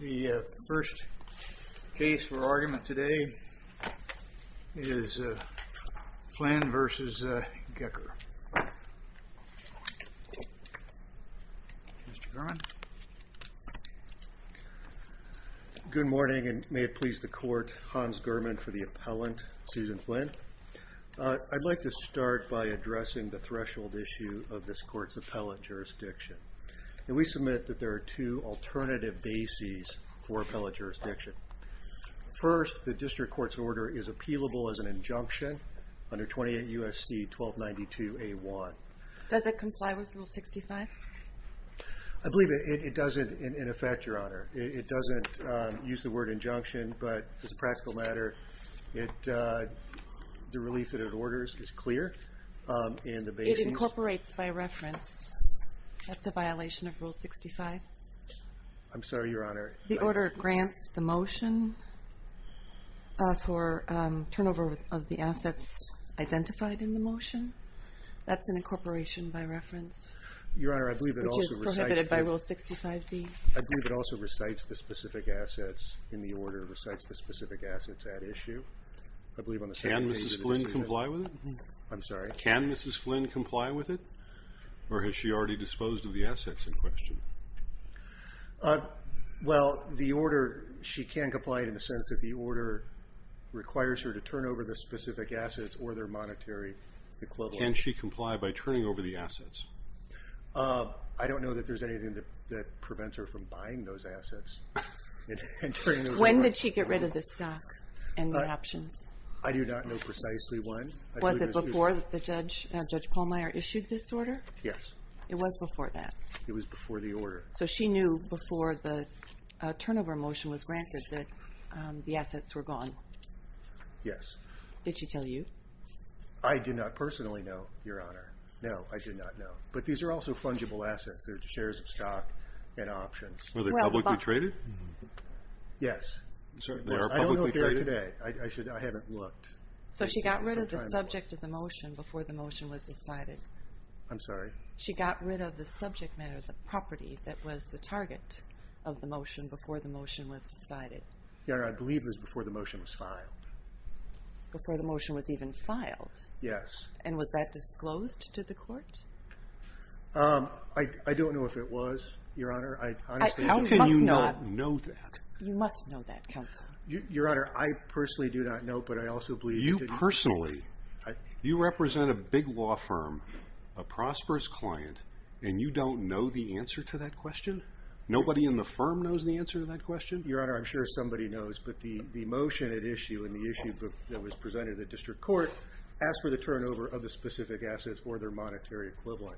The first case for argument today is Flynn v. Gecker. Good morning, and may it please the court, Hans German for the appellant, Susan Flynn. I'd like to start by addressing the threshold issue of this court's appellate jurisdiction. We submit that there are two alternative bases for appellate jurisdiction. First, the district court's order is appealable as an injunction under 28 U.S.C. 1292A1. Does it comply with Rule 65? I believe it doesn't, in effect, Your Honor. It doesn't use the word injunction, but as a practical matter, the relief that it orders is clear. It incorporates by reference. That's a violation of Rule 65. I'm sorry, Your Honor. The order grants the motion for turnover of the assets identified in the motion. That's an incorporation by reference. Your Honor, I believe it also recites the specific assets in the order, recites the specific assets at issue. Can Mrs. Flynn comply with it? I'm sorry? Can Mrs. Flynn comply with it? Or has she already disposed of the assets in question? Well, the order, she can comply in the sense that the order requires her to turn over the specific assets or their monetary equivalent. Can she comply by turning over the assets? I don't know that there's anything that prevents her from buying those assets. When did she get rid of the stock and the options? I do not know precisely when. Was it before Judge Pallmeyer issued this order? Yes. It was before that? It was before the order. So she knew before the turnover motion was granted that the assets were gone? Yes. Did she tell you? I did not personally know, Your Honor. No, I did not know. But these are also fungible assets. They're shares of stock and options. Were they publicly traded? Yes. I don't know if they are today. I haven't looked. So she got rid of the subject of the motion before the motion was decided? I'm sorry? She got rid of the subject matter, the property that was the target of the motion before the motion was decided? Your Honor, I believe it was before the motion was filed. Before the motion was even filed? Yes. And was that disclosed to the court? I don't know if it was, Your Honor. How can you not know that? You must know that, counsel. Your Honor, I personally do not know, but I also believe that you do. You personally? You represent a big law firm, a prosperous client, and you don't know the answer to that question? Nobody in the firm knows the answer to that question? Your Honor, I'm sure somebody knows, but the motion at issue in the issue book that was presented to the district court asked for the turnover of the specific assets or their monetary equivalent.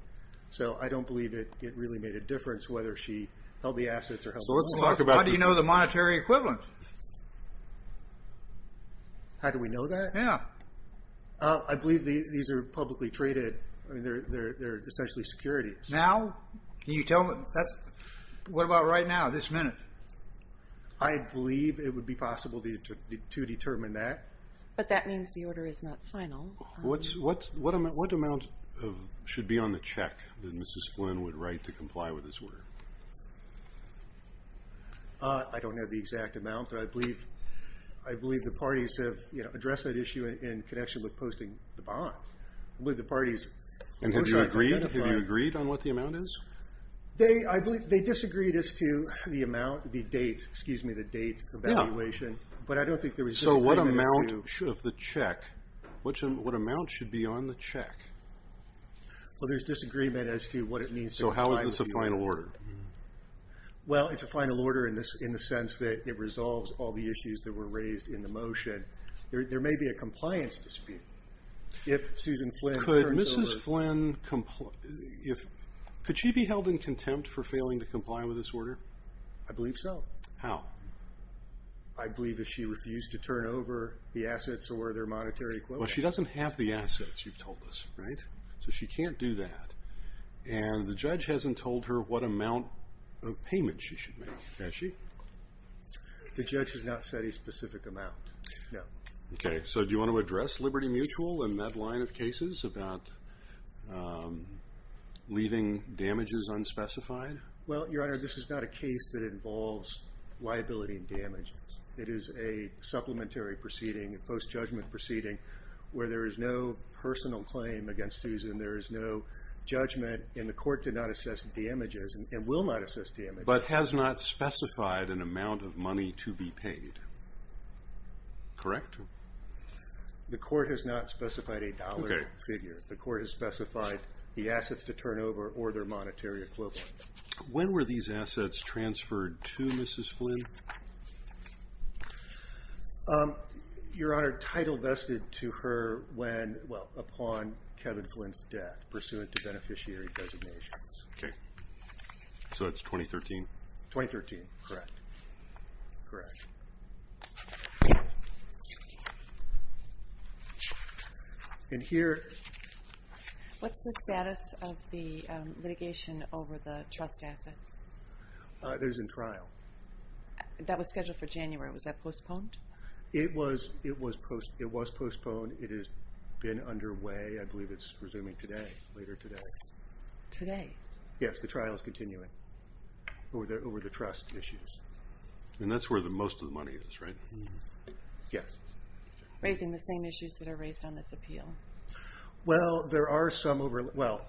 So I don't believe it really made a difference whether she held the assets or held the money. So how do you know the monetary equivalent? How do we know that? Yeah. I believe these are publicly traded. They're essentially securities. Now? Can you tell me? What about right now, this minute? I believe it would be possible to determine that. But that means the order is not final. What amount should be on the check that Mrs. Flynn would write to comply with this order? I don't have the exact amount, but I believe the parties have addressed that issue in connection with posting the bond. I believe the parties push on that. And have you agreed on what the amount is? They disagreed as to the date evaluation, but I don't think there was disagreement. So what amount should be on the check? Well, there's disagreement as to what it means to comply with the order. So how is this a final order? Well, it's a final order in the sense that it resolves all the issues that were raised in the motion. There may be a compliance dispute. Could Mrs. Flynn be held in contempt for failing to comply with this order? I believe so. How? I believe if she refused to turn over the assets or their monetary equivalent. Well, she doesn't have the assets, you've told us, right? So she can't do that. And the judge hasn't told her what amount of payment she should make, has she? The judge has not said a specific amount, no. Okay, so do you want to address Liberty Mutual and that line of cases about leaving damages unspecified? Well, Your Honor, this is not a case that involves liability and damages. It is a supplementary proceeding, a post-judgment proceeding, where there is no personal claim against Susan. There is no judgment, and the court did not assess damages and will not assess damages. But has not specified an amount of money to be paid, correct? The court has not specified a dollar figure. The court has specified the assets to turn over or their monetary equivalent. When were these assets transferred to Mrs. Flynn? Your Honor, title vested to her when, well, upon Kevin Flynn's death, pursuant to beneficiary designations. Okay, so that's 2013? 2013, correct. Correct. And here... What's the status of the litigation over the trust assets? That is in trial. That was scheduled for January. Was that postponed? It was postponed. It has been underway. I believe it's resuming today, later today. Today? Yes, the trial is continuing over the trust issues. And that's where the most of the money is, right? Yes. Raising the same issues that are raised on this appeal. Well, there are some... Well,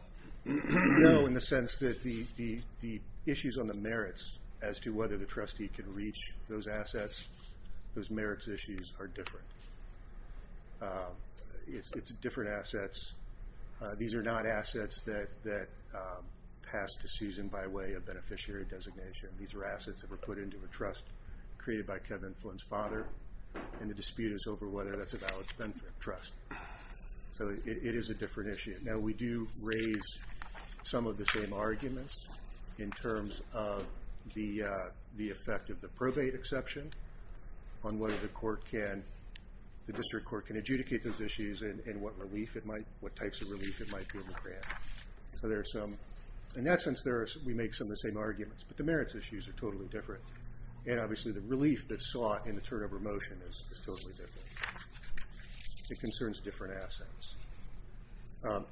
no, in the sense that the issues on the merits as to whether the trustee can reach those assets, those merits issues are different. It's different assets. These are not assets that pass to Susan by way of beneficiary designation. These are assets that were put into a trust created by Kevin Flynn's father, and the dispute is over whether that's a valid benefit trust. So it is a different issue. Now, we do raise some of the same arguments in terms of the effect of the probate exception on whether the court can, the district court can adjudicate those issues and what relief it might, what types of relief it might be able to grant. So there are some... In that sense, we make some of the same arguments. But the merits issues are totally different. And obviously the relief that's sought in the turnover motion is totally different. It concerns different assets.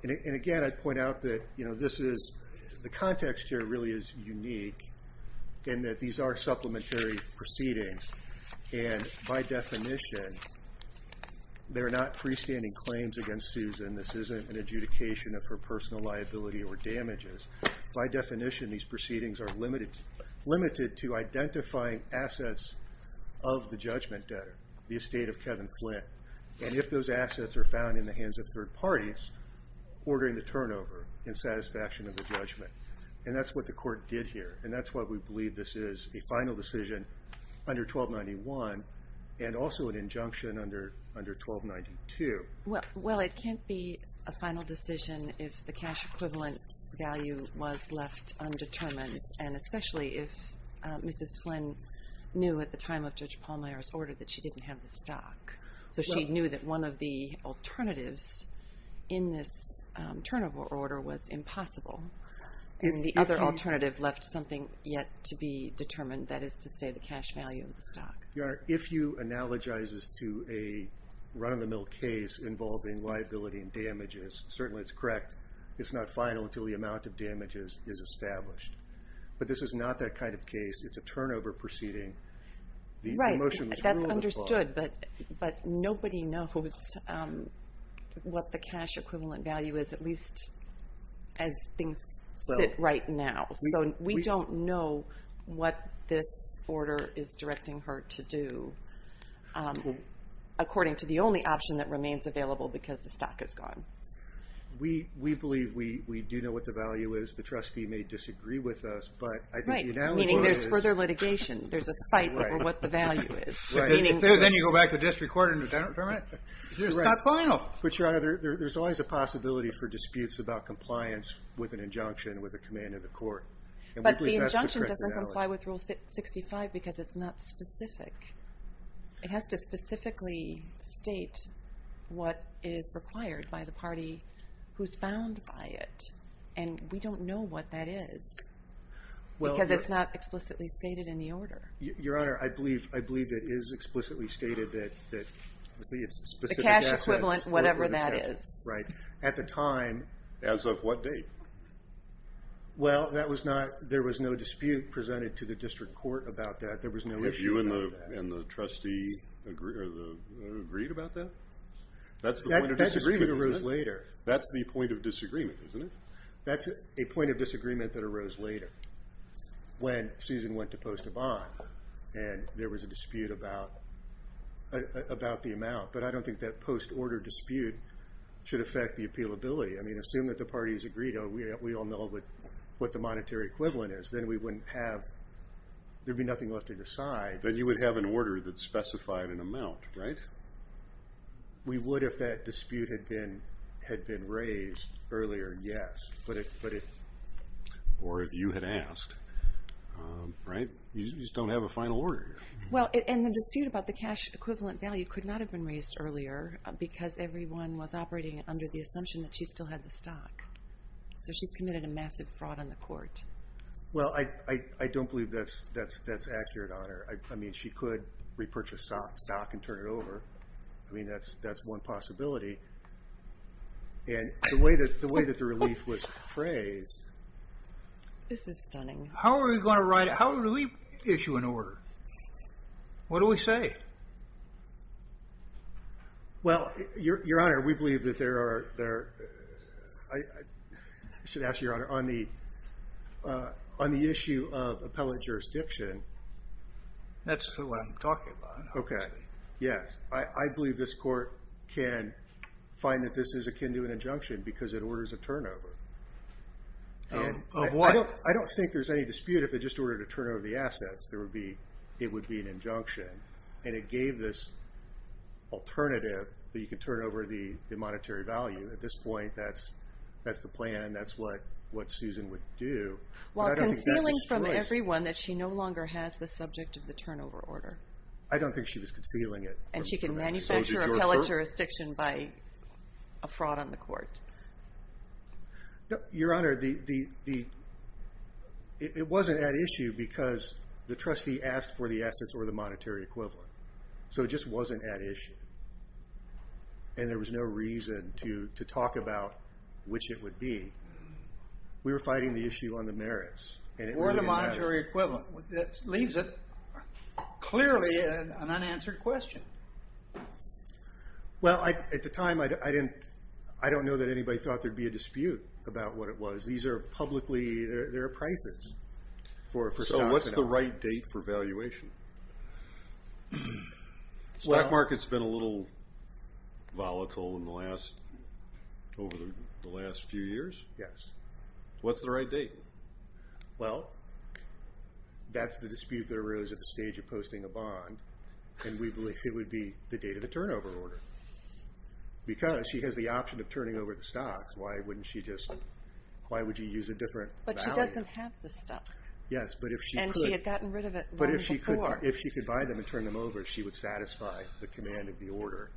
And again, I'd point out that this is... The context here really is unique in that these are supplementary proceedings. And by definition, they're not freestanding claims against Susan. This isn't an adjudication of her personal liability or damages. By definition, these proceedings are limited to identifying assets of the judgment debtor, the estate of Kevin Flynn. And if those assets are found in the hands of third parties, ordering the turnover in satisfaction of the judgment. And that's what the court did here. And that's why we believe this is a final decision under 1291 and also an injunction under 1292. Well, it can't be a final decision if the cash equivalent value was left undetermined. And especially if Mrs. Flynn knew at the time of Judge Palmer's order that she didn't have the stock. So she knew that one of the alternatives in this turnover order was impossible. And the other alternative left something yet to be determined, Your Honor, if you analogize this to a run-of-the-mill case involving liability and damages, certainly it's correct. It's not final until the amount of damages is established. But this is not that kind of case. It's a turnover proceeding. Right, that's understood. But nobody knows what the cash equivalent value is, at least as things sit right now. So we don't know what this order is directing her to do, according to the only option that remains available because the stock is gone. We believe we do know what the value is. The trustee may disagree with us. Right, meaning there's further litigation. There's a fight over what the value is. Then you go back to district court and determine it. It's not final. But Your Honor, there's always a possibility for disputes about compliance with an injunction with the command of the court. But the injunction doesn't comply with Rule 65 because it's not specific. It has to specifically state what is required by the party who's bound by it. And we don't know what that is because it's not explicitly stated in the order. Your Honor, I believe it is explicitly stated that it's specific assets. The cash equivalent, whatever that is. Right. At the time. As of what date? Well, there was no dispute presented to the district court about that. There was no issue about that. Have you and the trustee agreed about that? That's the point of disagreement, isn't it? That disagreement arose later. That's the point of disagreement, isn't it? That's a point of disagreement that arose later when Susan went to post a bond. And there was a dispute about the amount. But I don't think that post-order dispute should affect the appealability. I mean, assume that the parties agreed. We all know what the monetary equivalent is. Then we wouldn't have to decide. Then you would have an order that specified an amount, right? We would if that dispute had been raised earlier, yes. Or if you had asked, right? You just don't have a final order here. Well, and the dispute about the cash equivalent value could not have been raised earlier because everyone was operating under the assumption that she still had the stock. So she's committed a massive fraud on the court. Well, I don't believe that's accurate on her. I mean, she could repurchase stock and turn it over. I mean, that's one possibility. This is stunning. How are we going to write it? How do we issue an order? What do we say? Well, Your Honor, we believe that there are, I should ask Your Honor, on the issue of appellate jurisdiction. That's what I'm talking about. Yes, I believe this court can find that this is akin to an injunction because it orders a turnover. Of what? I don't think there's any dispute if it just ordered a turnover of the assets. It would be an injunction. And it gave this alternative that you could turn over the monetary value. At this point, that's the plan. That's what Susan would do. Well, concealing from everyone that she no longer has the subject of the turnover order. I don't think she was concealing it. And she can manufacture appellate jurisdiction by a fraud on the court. Your Honor, it wasn't at issue because the trustee asked for the assets or the monetary equivalent. So it just wasn't at issue. And there was no reason to talk about which it would be. We were fighting the issue on the merits. Or the monetary equivalent. That leaves it clearly an unanswered question. Well, at the time, I don't know that anybody thought there'd be a dispute about what it was. These are publicly, they're prices. So what's the right date for valuation? Stock market's been a little volatile over the last few years. Yes. What's the right date? Well, that's the dispute that arose at the stage of posting a bond. And we believe it would be the date of the turnover order. Because she has the option of turning over the stocks. Why wouldn't she just, why would you use a different value? But she doesn't have the stock. Yes, but if she could. And she had gotten rid of it by before. But if she could buy them and turn them over, she would satisfy the command of the order.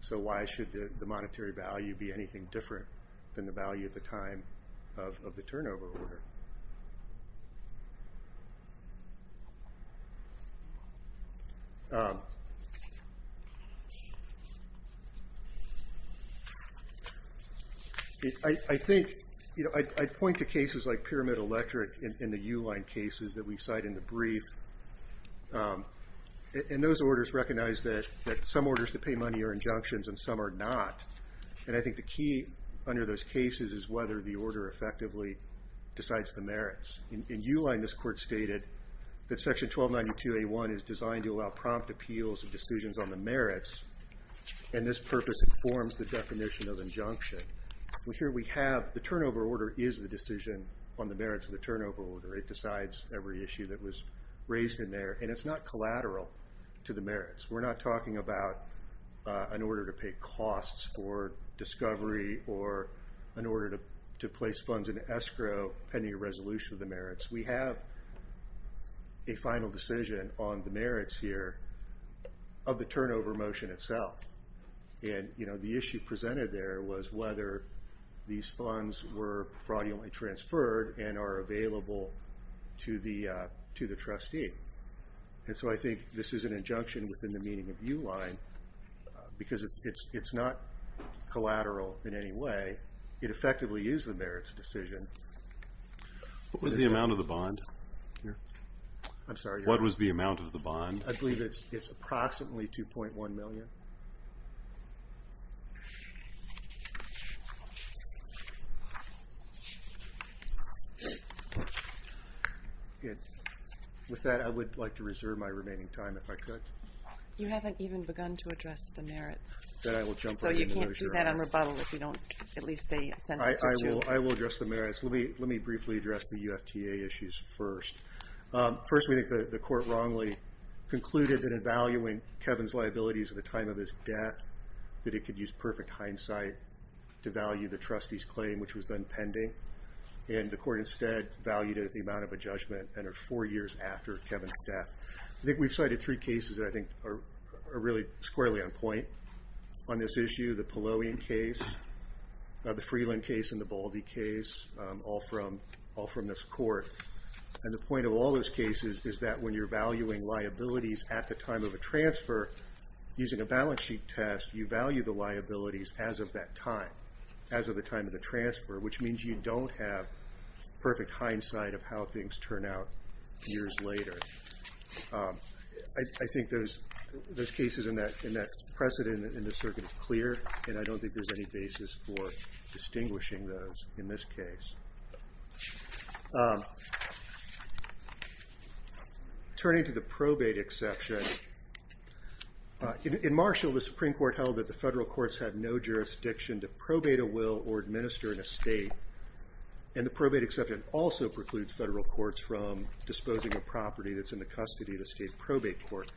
So why should the monetary value be anything different than the value at the time of the turnover order? I think, I point to cases like Pyramid Electric in the U line cases that we cite in the brief. And those orders recognize that some orders to pay money are injunctions and some are not. And I think the key under those cases is whether the order effectively decides the merits. In U line, this court stated that section 1292A1 is designed to allow prompt appeals and decisions on the merits. And this purpose informs the definition of injunction. Here we have, the turnover order is the decision on the merits of the turnover order. It decides every issue that was raised in there. And it's not collateral to the merits. We're not talking about an order to pay costs for discovery or an order to place funds into escrow pending a resolution of the merits. We have a final decision on the merits here of the turnover motion itself. And the issue presented there was whether these funds were fraudulently transferred and are available to the trustee. And so I think this is an injunction within the meaning of U line because it's not collateral in any way. It effectively is the merits decision. What was the amount of the bond here? I'm sorry. What was the amount of the bond? I believe it's approximately 2.1 million. With that, I would like to reserve my remaining time if I could. You haven't even begun to address the merits. So you can't do that on rebuttal if you don't at least say a sentence or two. I will address the merits. Let me briefly address the UFTA issues first. First, we think the court wrongly concluded that in valuing Kevin's liabilities at the time of his death, that it could use perfect hindsight to value the trustee's claim, which was then pending. And the court instead valued it at the amount of a judgment and at four years after Kevin's death. I think we've cited three cases that I think are really squarely on point on this issue. The Poloian case, the Freeland case, and the Baldy case, all from this court. And the point of all those cases is that when you're valuing liabilities at the time of a transfer, using a balance sheet test, you value the liabilities as of that time, as of the time of the transfer, which means you don't have perfect hindsight of how things turn out years later. I think those cases and that precedent in this circuit is clear, and I don't think there's any basis for distinguishing those in this case. Turning to the probate exception. In Marshall, the Supreme Court held that the federal courts have no jurisdiction to probate a will or administer an estate. And the probate exception also precludes federal courts from disposing of property that's in the custody of the state probate court.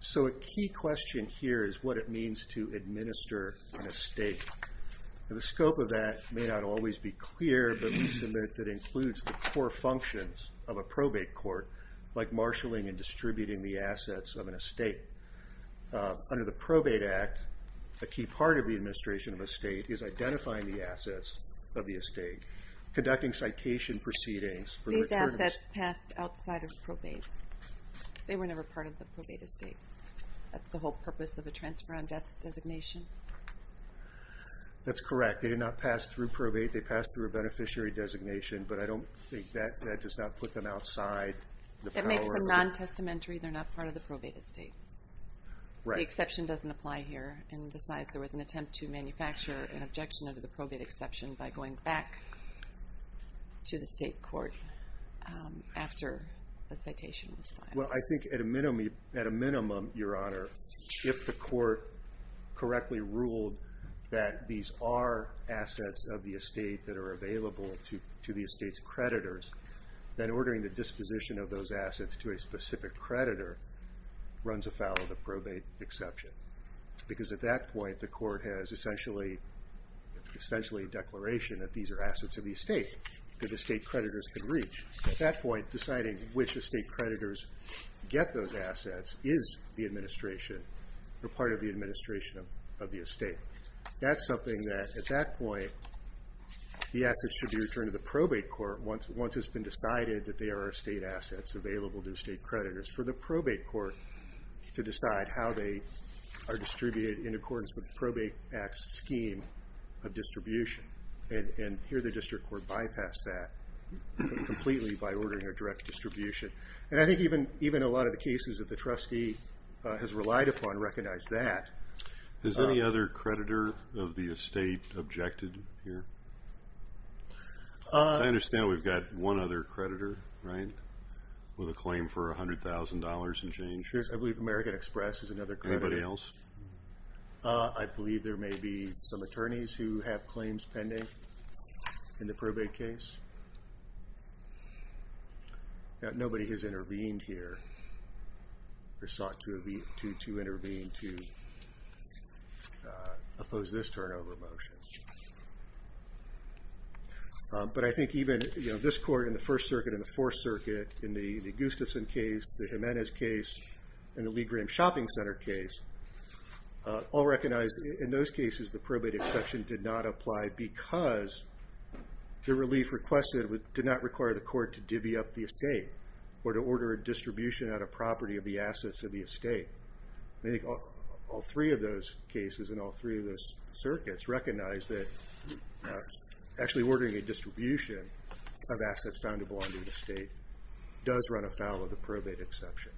So a key question here is what it means to administer an estate. And the scope of that may not always be clear, but we submit that it includes the core functions of a probate court, like marshaling and distributing the assets of an estate. Under the Probate Act, a key part of the administration of an estate is identifying the assets of the estate, conducting citation proceedings. These assets passed outside of probate. They were never part of the probate estate. That's the whole purpose of a transfer on death designation? That's correct. They did not pass through probate. They passed through a beneficiary designation, but I don't think that does not put them outside. That makes them non-testamentary. They're not part of the probate estate. The exception doesn't apply here. And besides, there was an attempt to manufacture an objection under the probate exception by going back to the state court after the citation was filed. Well, I think at a minimum, Your Honor, if the court correctly ruled that these are assets of the estate that are available to the estate's creditors, then ordering the disposition of those assets to a specific creditor runs afoul of the probate exception. Because at that point, the court has essentially a declaration that these are assets of the estate that estate creditors can reach. At that point, deciding which estate creditors get those assets is the administration or part of the administration of the estate. That's something that at that point the assets should be returned to the probate court once it's been decided that they are estate assets available to estate creditors for the probate court to decide how they are distributed and here the district court bypassed that completely by ordering a direct distribution. And I think even a lot of the cases that the trustee has relied upon recognize that. Has any other creditor of the estate objected here? I understand we've got one other creditor, right, with a claim for $100,000 and change. Yes, I believe American Express is another creditor. Anybody else? I believe there may be some attorneys who have claims pending in the probate case. Nobody has intervened here or sought to intervene to oppose this turnover motion. But I think even this court in the First Circuit and the Fourth Circuit in the Gustafson case, the Jimenez case, and the Lee Graham Shopping Center case, all recognized in those cases the probate exception did not apply because the relief requested did not require the court to divvy up the estate or to order a distribution out of property of the assets of the estate. I think all three of those cases and all three of those circuits recognize that actually ordering a distribution of assets found to belong to the estate does run afoul of the probate exception.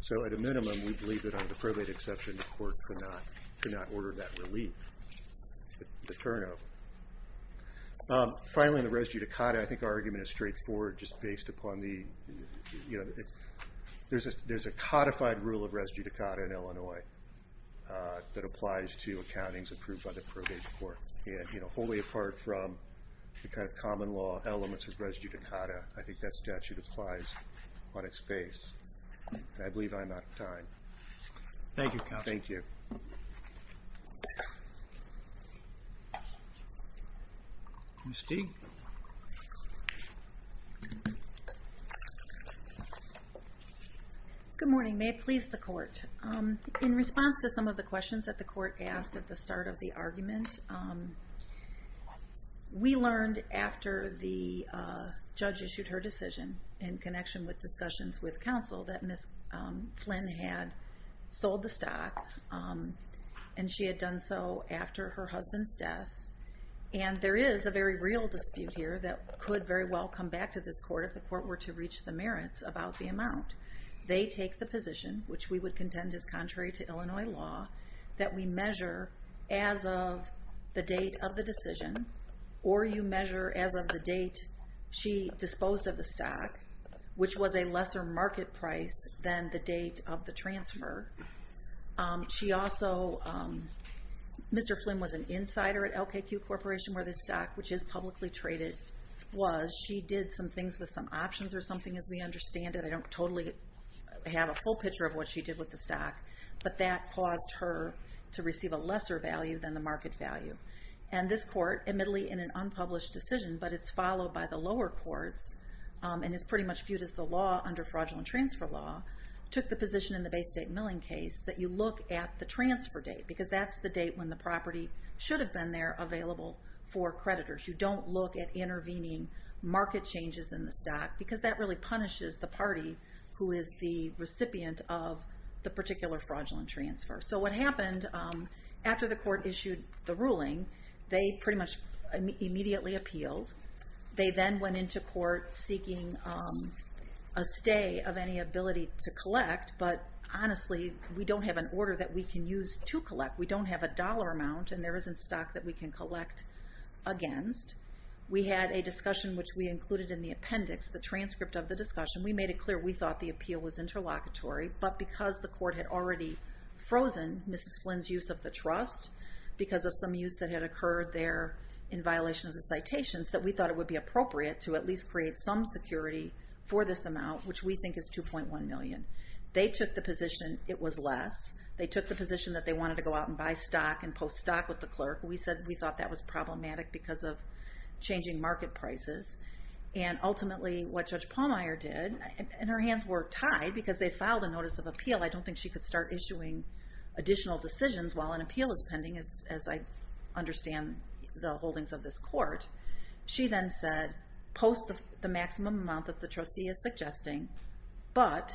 So at a minimum, we believe that on the probate exception, the court could not order that relief, the turnover. Finally, on the res judicata, I think our argument is straightforward just based upon the, you know, there's a codified rule of res judicata in Illinois that applies to accountings approved by the probate court. And, you know, wholly apart from the kind of common law elements of res judicata, I think that statute applies on its face. And I believe I'm out of time. Thank you, counsel. Thank you. Ms. Teague? Good morning. May it please the court. In response to some of the questions that the court asked at the start of the argument, we learned after the judge issued her decision in connection with discussions with counsel that Ms. Flynn had sold the stock and she had done so after her husband's death. And there is a very real dispute here that could very well come back to this court if the court were to reach the merits about the amount. They take the position, which we would contend is contrary to Illinois law, that we measure as of the date of the decision or you measure as of the date she disposed of the stock, which was a lesser market price than the date of the transfer. She also, Mr. Flynn was an insider at LKQ Corporation where this stock, which is publicly traded, was. She did some things with some options or something, as we understand it. I don't totally have a full picture of what she did with the stock, but that caused her to receive a lesser value than the market value. And this court, admittedly in an unpublished decision, but it's followed by the lower courts and is pretty much viewed as the law under fraudulent transfer law, took the position in the base date milling case that you look at the transfer date because that's the date when the property should have been there available for creditors. You don't look at intervening market changes in the stock because that really punishes the party who is the recipient of the particular fraudulent transfer. So what happened after the court issued the ruling, they pretty much immediately appealed. They then went into court seeking a stay of any ability to collect, but honestly we don't have an order that we can use to collect. We don't have a dollar amount, and there isn't stock that we can collect against. We had a discussion which we included in the appendix, the transcript of the discussion. We made it clear we thought the appeal was interlocutory, but because the court had already frozen Mrs. Flynn's use of the trust because of some use that had occurred there in violation of the citations, that we thought it would be appropriate to at least create some security for this amount, which we think is $2.1 million. They took the position it was less. They took the position that they wanted to go out and buy stock and post stock with the clerk. We said we thought that was problematic because of changing market prices, and ultimately what Judge Pallmeyer did, and her hands were tied because they filed a notice of appeal. I don't think she could start issuing additional decisions while an appeal is pending, as I understand the holdings of this court. She then said post the maximum amount that the trustee is suggesting, but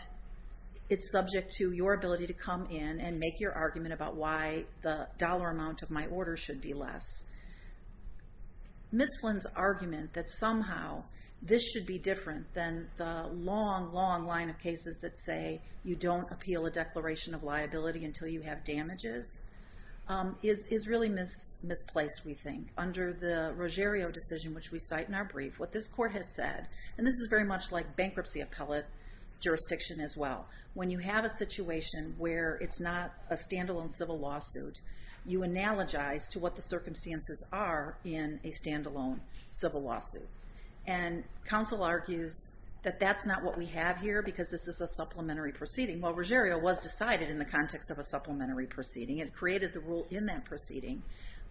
it's subject to your ability to come in and make your argument about why the dollar amount of my order should be less. Mrs. Flynn's argument that somehow this should be different than the long, long line of cases that say you don't appeal a declaration of liability until you have damages is really misplaced, we think. Under the Ruggiero decision, which we cite in our brief, what this court has said, and this is very much like bankruptcy appellate jurisdiction as well. When you have a situation where it's not a stand-alone civil lawsuit, you analogize to what the circumstances are in a stand-alone civil lawsuit. And counsel argues that that's not what we have here because this is a supplementary proceeding. Well, Ruggiero was decided in the context of a supplementary proceeding. It created the rule in that proceeding,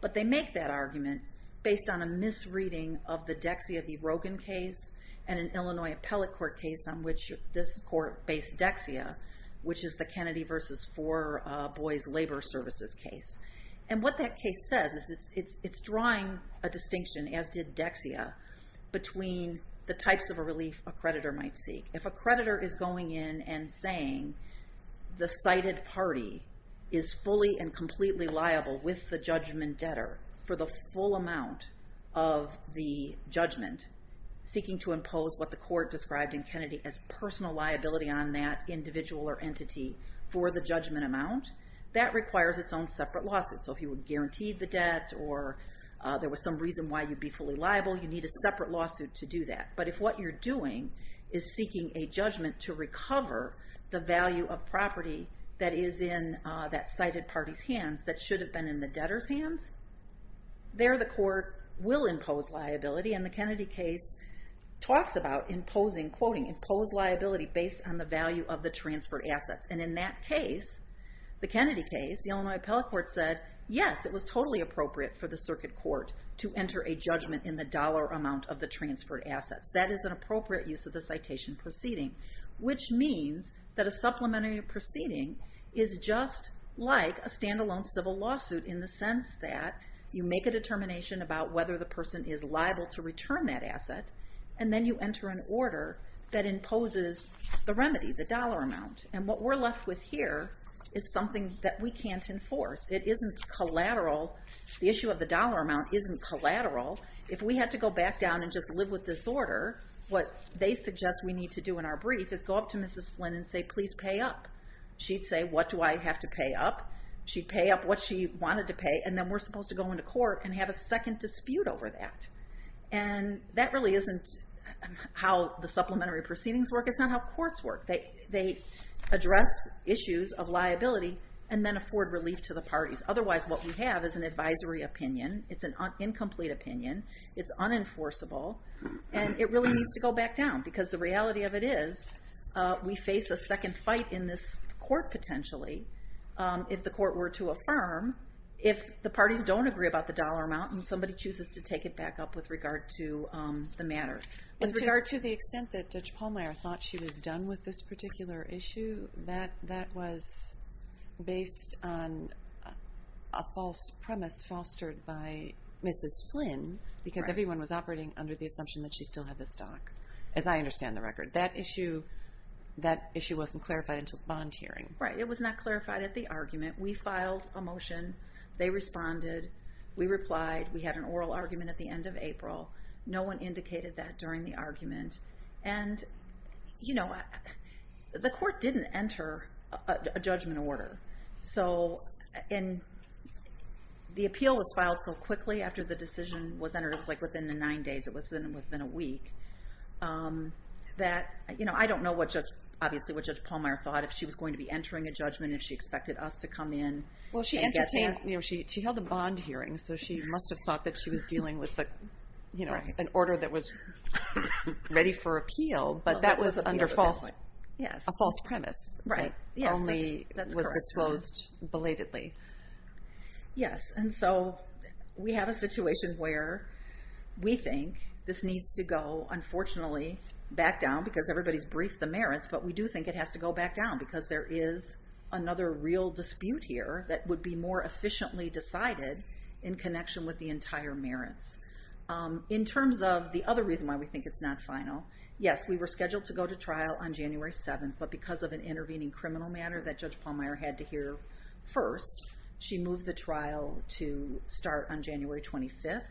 but they make that argument based on a misreading of the Dexia v. Rogan case and an Illinois appellate court case on which this court based Dexia, which is the Kennedy v. Four Boys Labor Services case. And what that case says is it's drawing a distinction, as did Dexia, between the types of relief a creditor might seek. If a creditor is going in and saying the cited party is fully and completely liable with the judgment debtor for the full amount of the judgment, seeking to impose what the court described in Kennedy as personal liability on that individual or entity for the judgment amount, that requires its own separate lawsuit. So if you would guarantee the debt or there was some reason why you'd be fully liable, you need a separate lawsuit to do that. But if what you're doing is seeking a judgment to recover the value of property that is in that cited party's hands that should have been in the debtor's hands, there the court will impose liability. And the Kennedy case talks about imposing, quoting, impose liability based on the value of the transferred assets. And in that case, the Kennedy case, the Illinois appellate court said, yes, it was totally appropriate for the circuit court to enter a judgment in the dollar amount of the transferred assets. That is an appropriate use of the citation proceeding, which means that a supplementary proceeding is just like a stand-alone civil lawsuit in the sense that you make a determination about whether the person is liable to return that asset, and then you enter an order that imposes the remedy, the dollar amount. And what we're left with here is something that we can't enforce. It isn't collateral. The issue of the dollar amount isn't collateral. If we had to go back down and just live with this order, what they suggest we need to do in our brief is go up to Mrs. Flynn and say, please pay up. She'd say, what do I have to pay up? She'd pay up what she wanted to pay, and then we're supposed to go into court and have a second dispute over that. And that really isn't how the supplementary proceedings work. It's not how courts work. They address issues of liability and then afford relief to the parties. Otherwise, what we have is an advisory opinion. It's an incomplete opinion. It's unenforceable. And it really needs to go back down because the reality of it is we face a second fight in this court potentially. If the court were to affirm, if the parties don't agree about the dollar amount and somebody chooses to take it back up with regard to the matter. With regard to the extent that Judge Palmer thought she was done with this particular issue, that was based on a false premise fostered by Mrs. Flynn because everyone was operating under the assumption that she still had the stock, as I understand the record. That issue wasn't clarified until the bond hearing. Right, it was not clarified at the argument. We filed a motion. They responded. We replied. We had an oral argument at the end of April. No one indicated that during the argument. And the court didn't enter a judgment order. So the appeal was filed so quickly after the decision was entered. It was like within the nine days. It was within a week. I don't know, obviously, what Judge Palmer thought. If she was going to be entering a judgment, if she expected us to come in and get there. Well, she entertained, she held a bond hearing, so she must have thought that she was dealing with an order that was ready for appeal, but that was under a false premise. Right, yes, that's correct. It only was disposed belatedly. Yes, and so we have a situation where we think this needs to go, unfortunately, back down because everybody's briefed the merits, but we do think it has to go back down because there is another real dispute here that would be more efficiently decided in connection with the entire merits. In terms of the other reason why we think it's not final, yes, we were scheduled to go to trial on January 7th, but because of an intervening criminal matter that Judge Palmer had to hear first, she moved the trial to start on January 25th,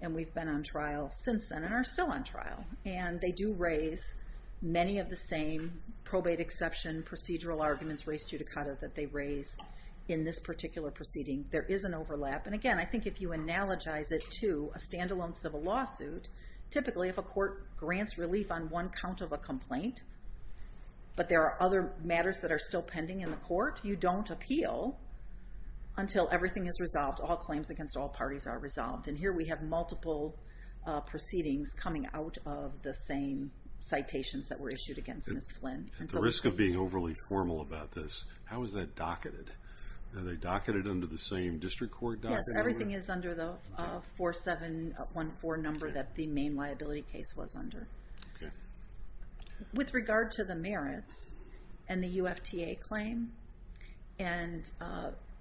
and we've been on trial since then and are still on trial. And they do raise many of the same probate exception procedural arguments, race judicata that they raise in this particular proceeding. There is an overlap. And again, I think if you analogize it to a standalone civil lawsuit, typically if a court grants relief on one count of a complaint, but there are other matters that are still pending in the court, you don't appeal until everything is resolved, all claims against all parties are resolved. And here we have multiple proceedings coming out of the same citations that were issued against Ms. Flynn. At the risk of being overly formal about this, how is that docketed? Are they docketed under the same district court docket? Yes, everything is under the 4714 number that the main liability case was under. With regard to the merits and the UFTA claim and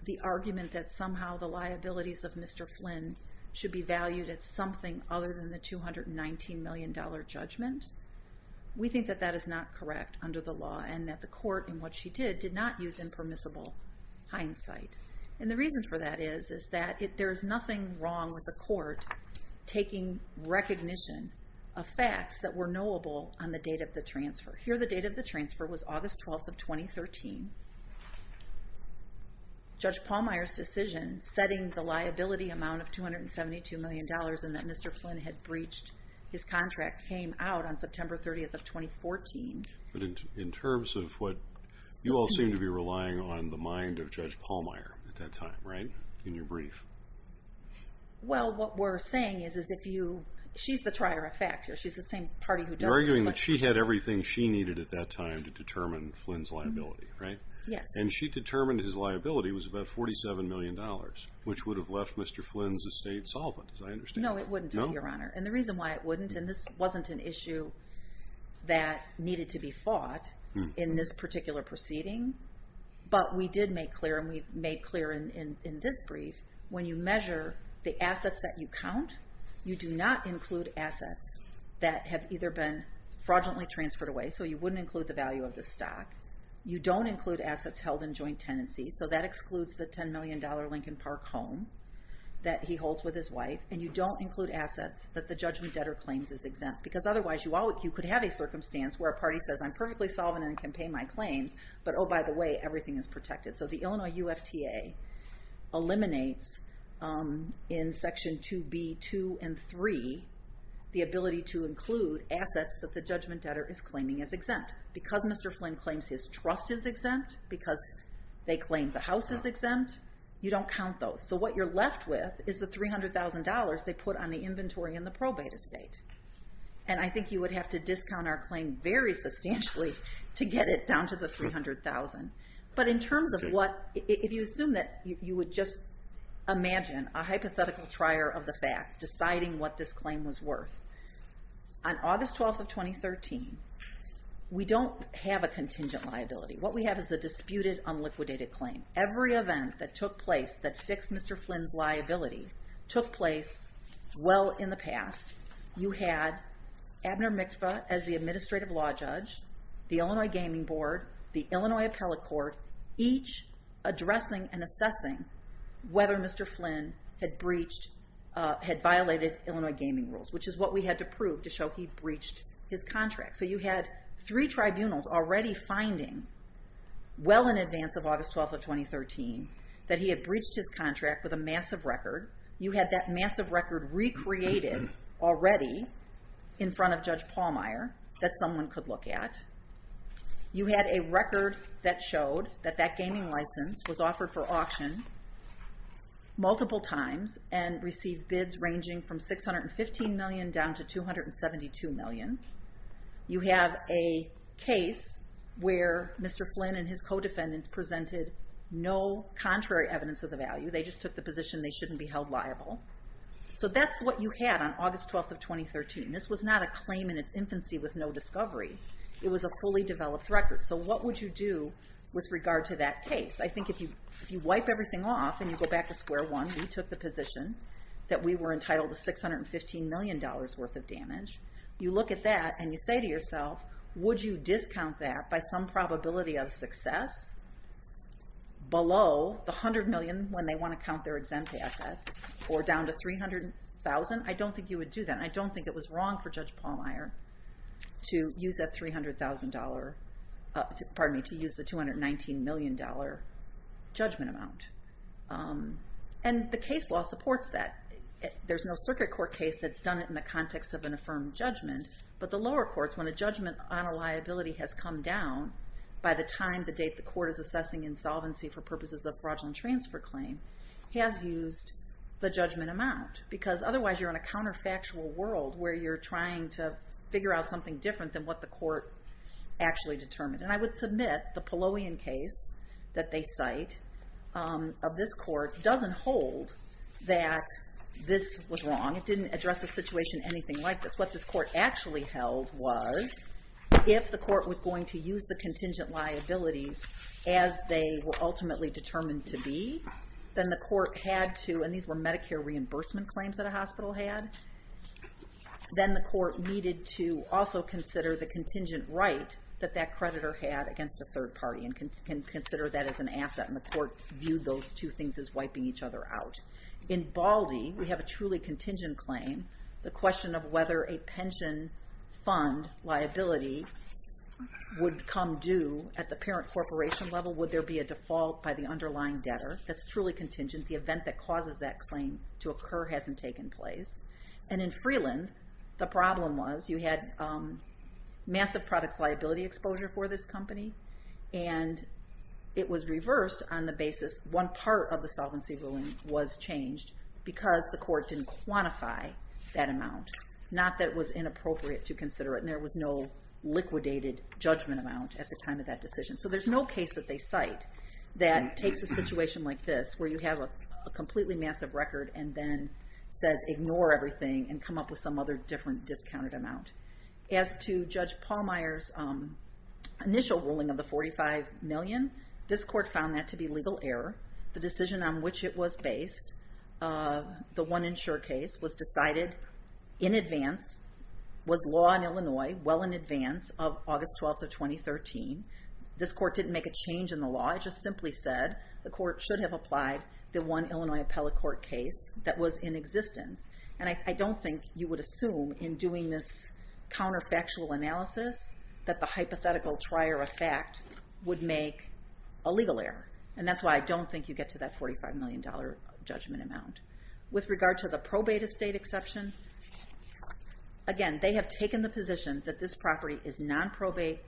the argument that somehow the liabilities of Mr. Flynn should be valued at something other than the $219 million judgment, we think that that is not correct under the law and that the court in what she did did not use impermissible hindsight. And the reason for that is that there is nothing wrong with the court taking recognition of facts that were knowable on the date of the transfer. Here the date of the transfer was August 12th of 2013. Judge Pallmeyer's decision setting the liability amount of $272 million and that Mr. Flynn had breached his contract came out on September 30th of 2014. But in terms of what, you all seem to be relying on the mind of Judge Pallmeyer at that time, right, in your brief. Well, what we're saying is if you... She's the trier of fact here. She's the same party who does this. You're arguing that she had everything she needed at that time to determine Flynn's liability, right? Yes. And she determined his liability was about $47 million, which would have left Mr. Flynn's estate solvent, as I understand. No, it wouldn't have, Your Honor. And the reason why it wouldn't, and this wasn't an issue that needed to be fought in this particular proceeding, but we did make clear, and we've made clear in this brief, when you measure the assets that you count, you do not include assets that have either been fraudulently transferred away, so you wouldn't include the value of the stock. You don't include assets held in joint tenancies, so that excludes the $10 million Lincoln Park home that he holds with his wife. And you don't include assets that the judgment debtor claims is exempt because otherwise you could have a circumstance where a party says, I'm perfectly solvent and can pay my claims, but oh, by the way, everything is protected. So the Illinois UFTA eliminates in Section 2b.2 and 3 the ability to include assets that the judgment debtor is claiming is exempt. Because Mr. Flynn claims his trust is exempt, because they claim the house is exempt, you don't count those. So what you're left with is the $300,000 they put on the inventory in the probate estate. And I think you would have to discount our claim very substantially to get it down to the $300,000. But in terms of what, if you assume that, you would just imagine a hypothetical trier of the fact deciding what this claim was worth. On August 12th of 2013, we don't have a contingent liability. What we have is a disputed, unliquidated claim. Every event that took place that fixed Mr. Flynn's liability took place well in the past. You had Abner Mikva as the administrative law judge, the Illinois Gaming Board, the Illinois Appellate Court, each addressing and assessing whether Mr. Flynn had breached, had violated Illinois Gaming Rules, which is what we had to prove to show he breached his contract. So you had three tribunals already finding, well in advance of August 12th of 2013, that he had breached his contract with a massive record. You had that massive record recreated already in front of Judge Pallmeyer that someone could look at. You had a record that showed that that gaming license was offered for auction multiple times and received bids ranging from $615 million down to $272 million. You have a case where Mr. Flynn and his co-defendants presented no contrary evidence of the value. They just took the position they shouldn't be held liable. So that's what you had on August 12th of 2013. This was not a claim in its infancy with no discovery. It was a fully developed record. So what would you do with regard to that case? I think if you wipe everything off and you go back to square one, we took the position that we were entitled to $615 million worth of damage. You look at that and you say to yourself, would you discount that by some probability of success below the $100 million when they want to count their exempt assets or down to $300,000? I don't think you would do that. I don't think it was wrong for Judge Pallmeyer to use that $300,000, pardon me, to use the $219 million judgment amount. And the case law supports that. There's no circuit court case that's done it in the context of an affirmed judgment. But the lower courts, when a judgment on a liability has come down by the time the date the court is assessing insolvency for purposes of fraudulent transfer claim, has used the judgment amount. Because otherwise you're in a counterfactual world where you're trying to figure out something different than what the court actually determined. And I would submit the Palloyan case that they cite of this court doesn't hold that this was wrong. It didn't address a situation anything like this. What this court actually held was, if the court was going to use the contingent liabilities as they were ultimately determined to be, then the court had to, and these were Medicare reimbursement claims that a hospital had, then the court needed to also consider the contingent right that that creditor had against a third party and consider that as an asset. And the court viewed those two things as wiping each other out. In Baldy, we have a truly contingent claim. The question of whether a pension fund liability would come due at the parent corporation level, would there be a default by the underlying debtor, that's truly contingent. The event that causes that claim to occur hasn't taken place. And in Freeland, the problem was you had massive products liability exposure for this company, and it was reversed on the basis one part of the solvency ruling was changed because the court didn't quantify that amount, not that it was inappropriate to consider it, and there was no liquidated judgment amount at the time of that decision. So there's no case that they cite that takes a situation like this where you have a completely massive record and then says ignore everything and come up with some other different discounted amount. As to Judge Pallmeyer's initial ruling of the $45 million, this court found that to be legal error. The decision on which it was based, the One Insure case, was decided in advance, was law in Illinois well in advance of August 12th of 2013. This court didn't make a change in the law. It just simply said the court should have applied the One Illinois Appellate Court case that was in existence. And I don't think you would assume in doing this counterfactual analysis that the hypothetical trier of fact would make a legal error. And that's why I don't think you get to that $45 million judgment amount. With regard to the probate estate exception, again, they have taken the position that this property is non-probate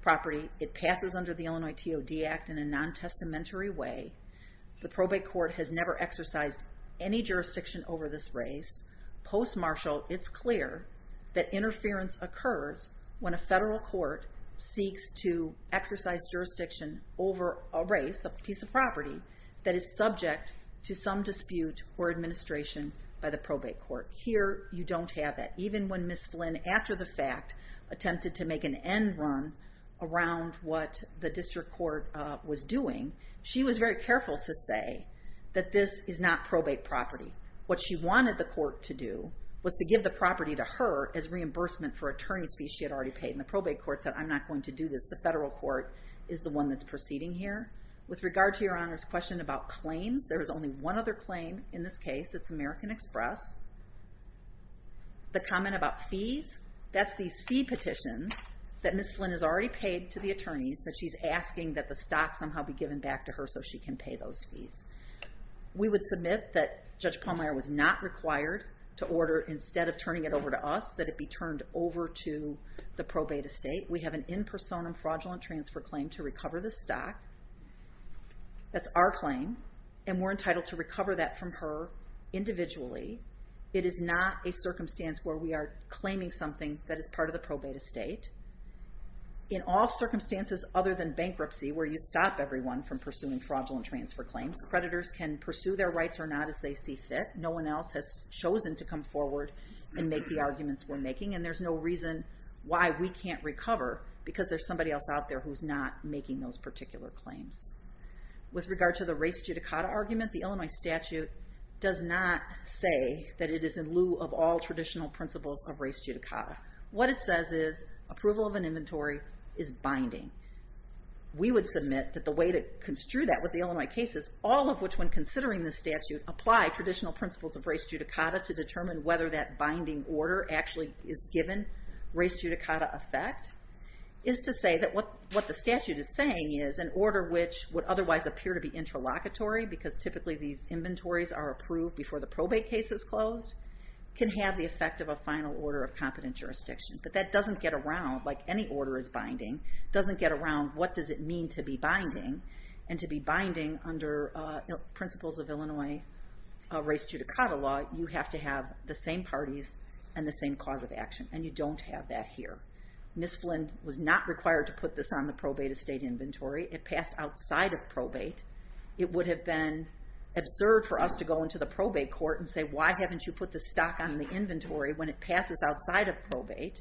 property. It passes under the Illinois TOD Act in a non-testamentary way. The probate court has never exercised any jurisdiction over this race. Post-martial, it's clear that interference occurs when a federal court seeks to exercise jurisdiction over a race, a piece of property, that is subject to some dispute or administration by the probate court. Here, you don't have that. Even when Ms. Flynn, after the fact, attempted to make an end run around what the district court was doing, she was very careful to say that this is not probate property. What she wanted the court to do was to give the property to her as reimbursement for attorney's fees she had already paid. And the probate court said, I'm not going to do this. The federal court is the one that's proceeding here. With regard to Your Honor's question about claims, there is only one other claim in this case. It's American Express. The comment about fees, that's these fee petitions that Ms. Flynn has already paid to the attorneys that she's asking that the stock somehow be given back to her so she can pay those fees. We would submit that Judge Palmeier was not required to order, instead of turning it over to us, that it be turned over to the probate estate. We have an in personam fraudulent transfer claim to recover the stock. That's our claim. And we're entitled to recover that from her individually. It is not a circumstance where we are claiming something that is part of the probate estate. In all circumstances other than bankruptcy, where you stop everyone from pursuing fraudulent transfer claims, creditors can pursue their rights or not as they see fit. No one else has chosen to come forward and make the arguments we're making. And there's no reason why we can't recover because there's somebody else out there who's not making those particular claims. With regard to the res judicata argument, the Illinois statute does not say that it is in lieu of all traditional principles of res judicata. What it says is approval of an inventory is binding. We would submit that the way to construe that with the Illinois case is all of which, when considering the statute, apply traditional principles of res judicata to determine whether that binding order actually is given res judicata effect, is to say that what the statute is saying is an order which would otherwise appear to be interlocutory, because typically these inventories are approved before the probate case is closed, can have the effect of a final order of competent jurisdiction. But that doesn't get around, like any order is binding, doesn't get around what does it mean to be binding. And to be binding under principles of Illinois res judicata law, you have to have the same parties and the same cause of action, and you don't have that here. Ms. Flynn was not required to put this on the probate estate inventory. It passed outside of probate. It would have been absurd for us to go into the probate court and say, why haven't you put the stock on the inventory when it passes outside of probate?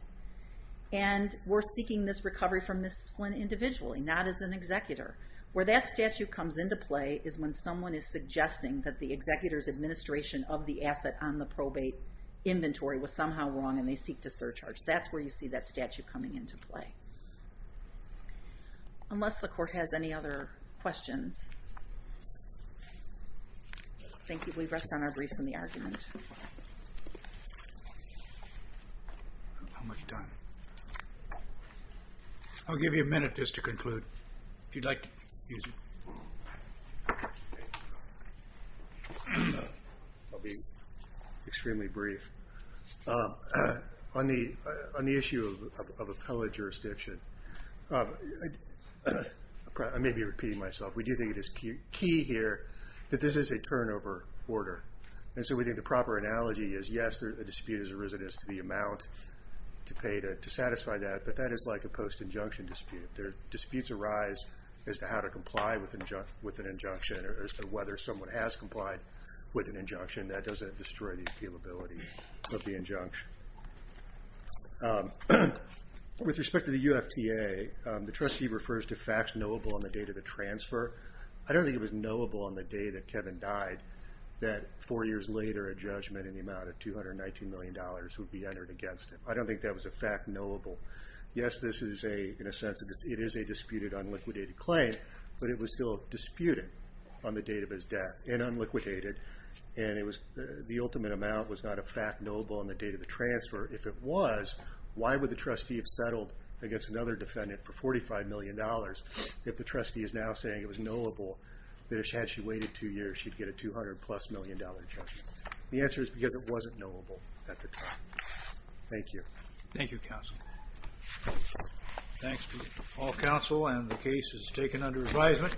And we're seeking this recovery from Ms. Flynn individually, not as an executor. Where that statute comes into play is when someone is suggesting that the executor's administration of the asset on the probate inventory was somehow wrong and they seek to surcharge. That's where you see that statute coming into play. Unless the court has any other questions. Thank you. We rest on our briefs in the argument. How much time? I'll give you a minute just to conclude. If you'd like to use it. I'll be extremely brief. On the issue of appellate jurisdiction, I may be repeating myself, we do think it is key here that this is a turnover order. And so we think the proper analogy is, yes, a dispute is a residence to the amount to pay to satisfy that, but that is like a post-injunction dispute. Disputes arise as to how to comply with an injunction or as to whether someone has complied with an injunction. That doesn't destroy the appealability of the injunction. With respect to the UFTA, the trustee refers to facts knowable on the date of the transfer. I don't think it was knowable on the day that Kevin died that four years later a judgment in the amount of $219 million would be entered against him. I don't think that was a fact knowable. Yes, in a sense it is a disputed, unliquidated claim, but it was still disputed on the date of his death and unliquidated, and the ultimate amount was not a fact knowable on the date of the transfer. If it was, why would the trustee have settled against another defendant for $45 million if the trustee is now saying it was knowable that had she waited two years, she'd get a $200-plus million judgment? The answer is because it wasn't knowable at the time. Thank you. Thank you, counsel. Thanks to all counsel, and the case is taken under advisement.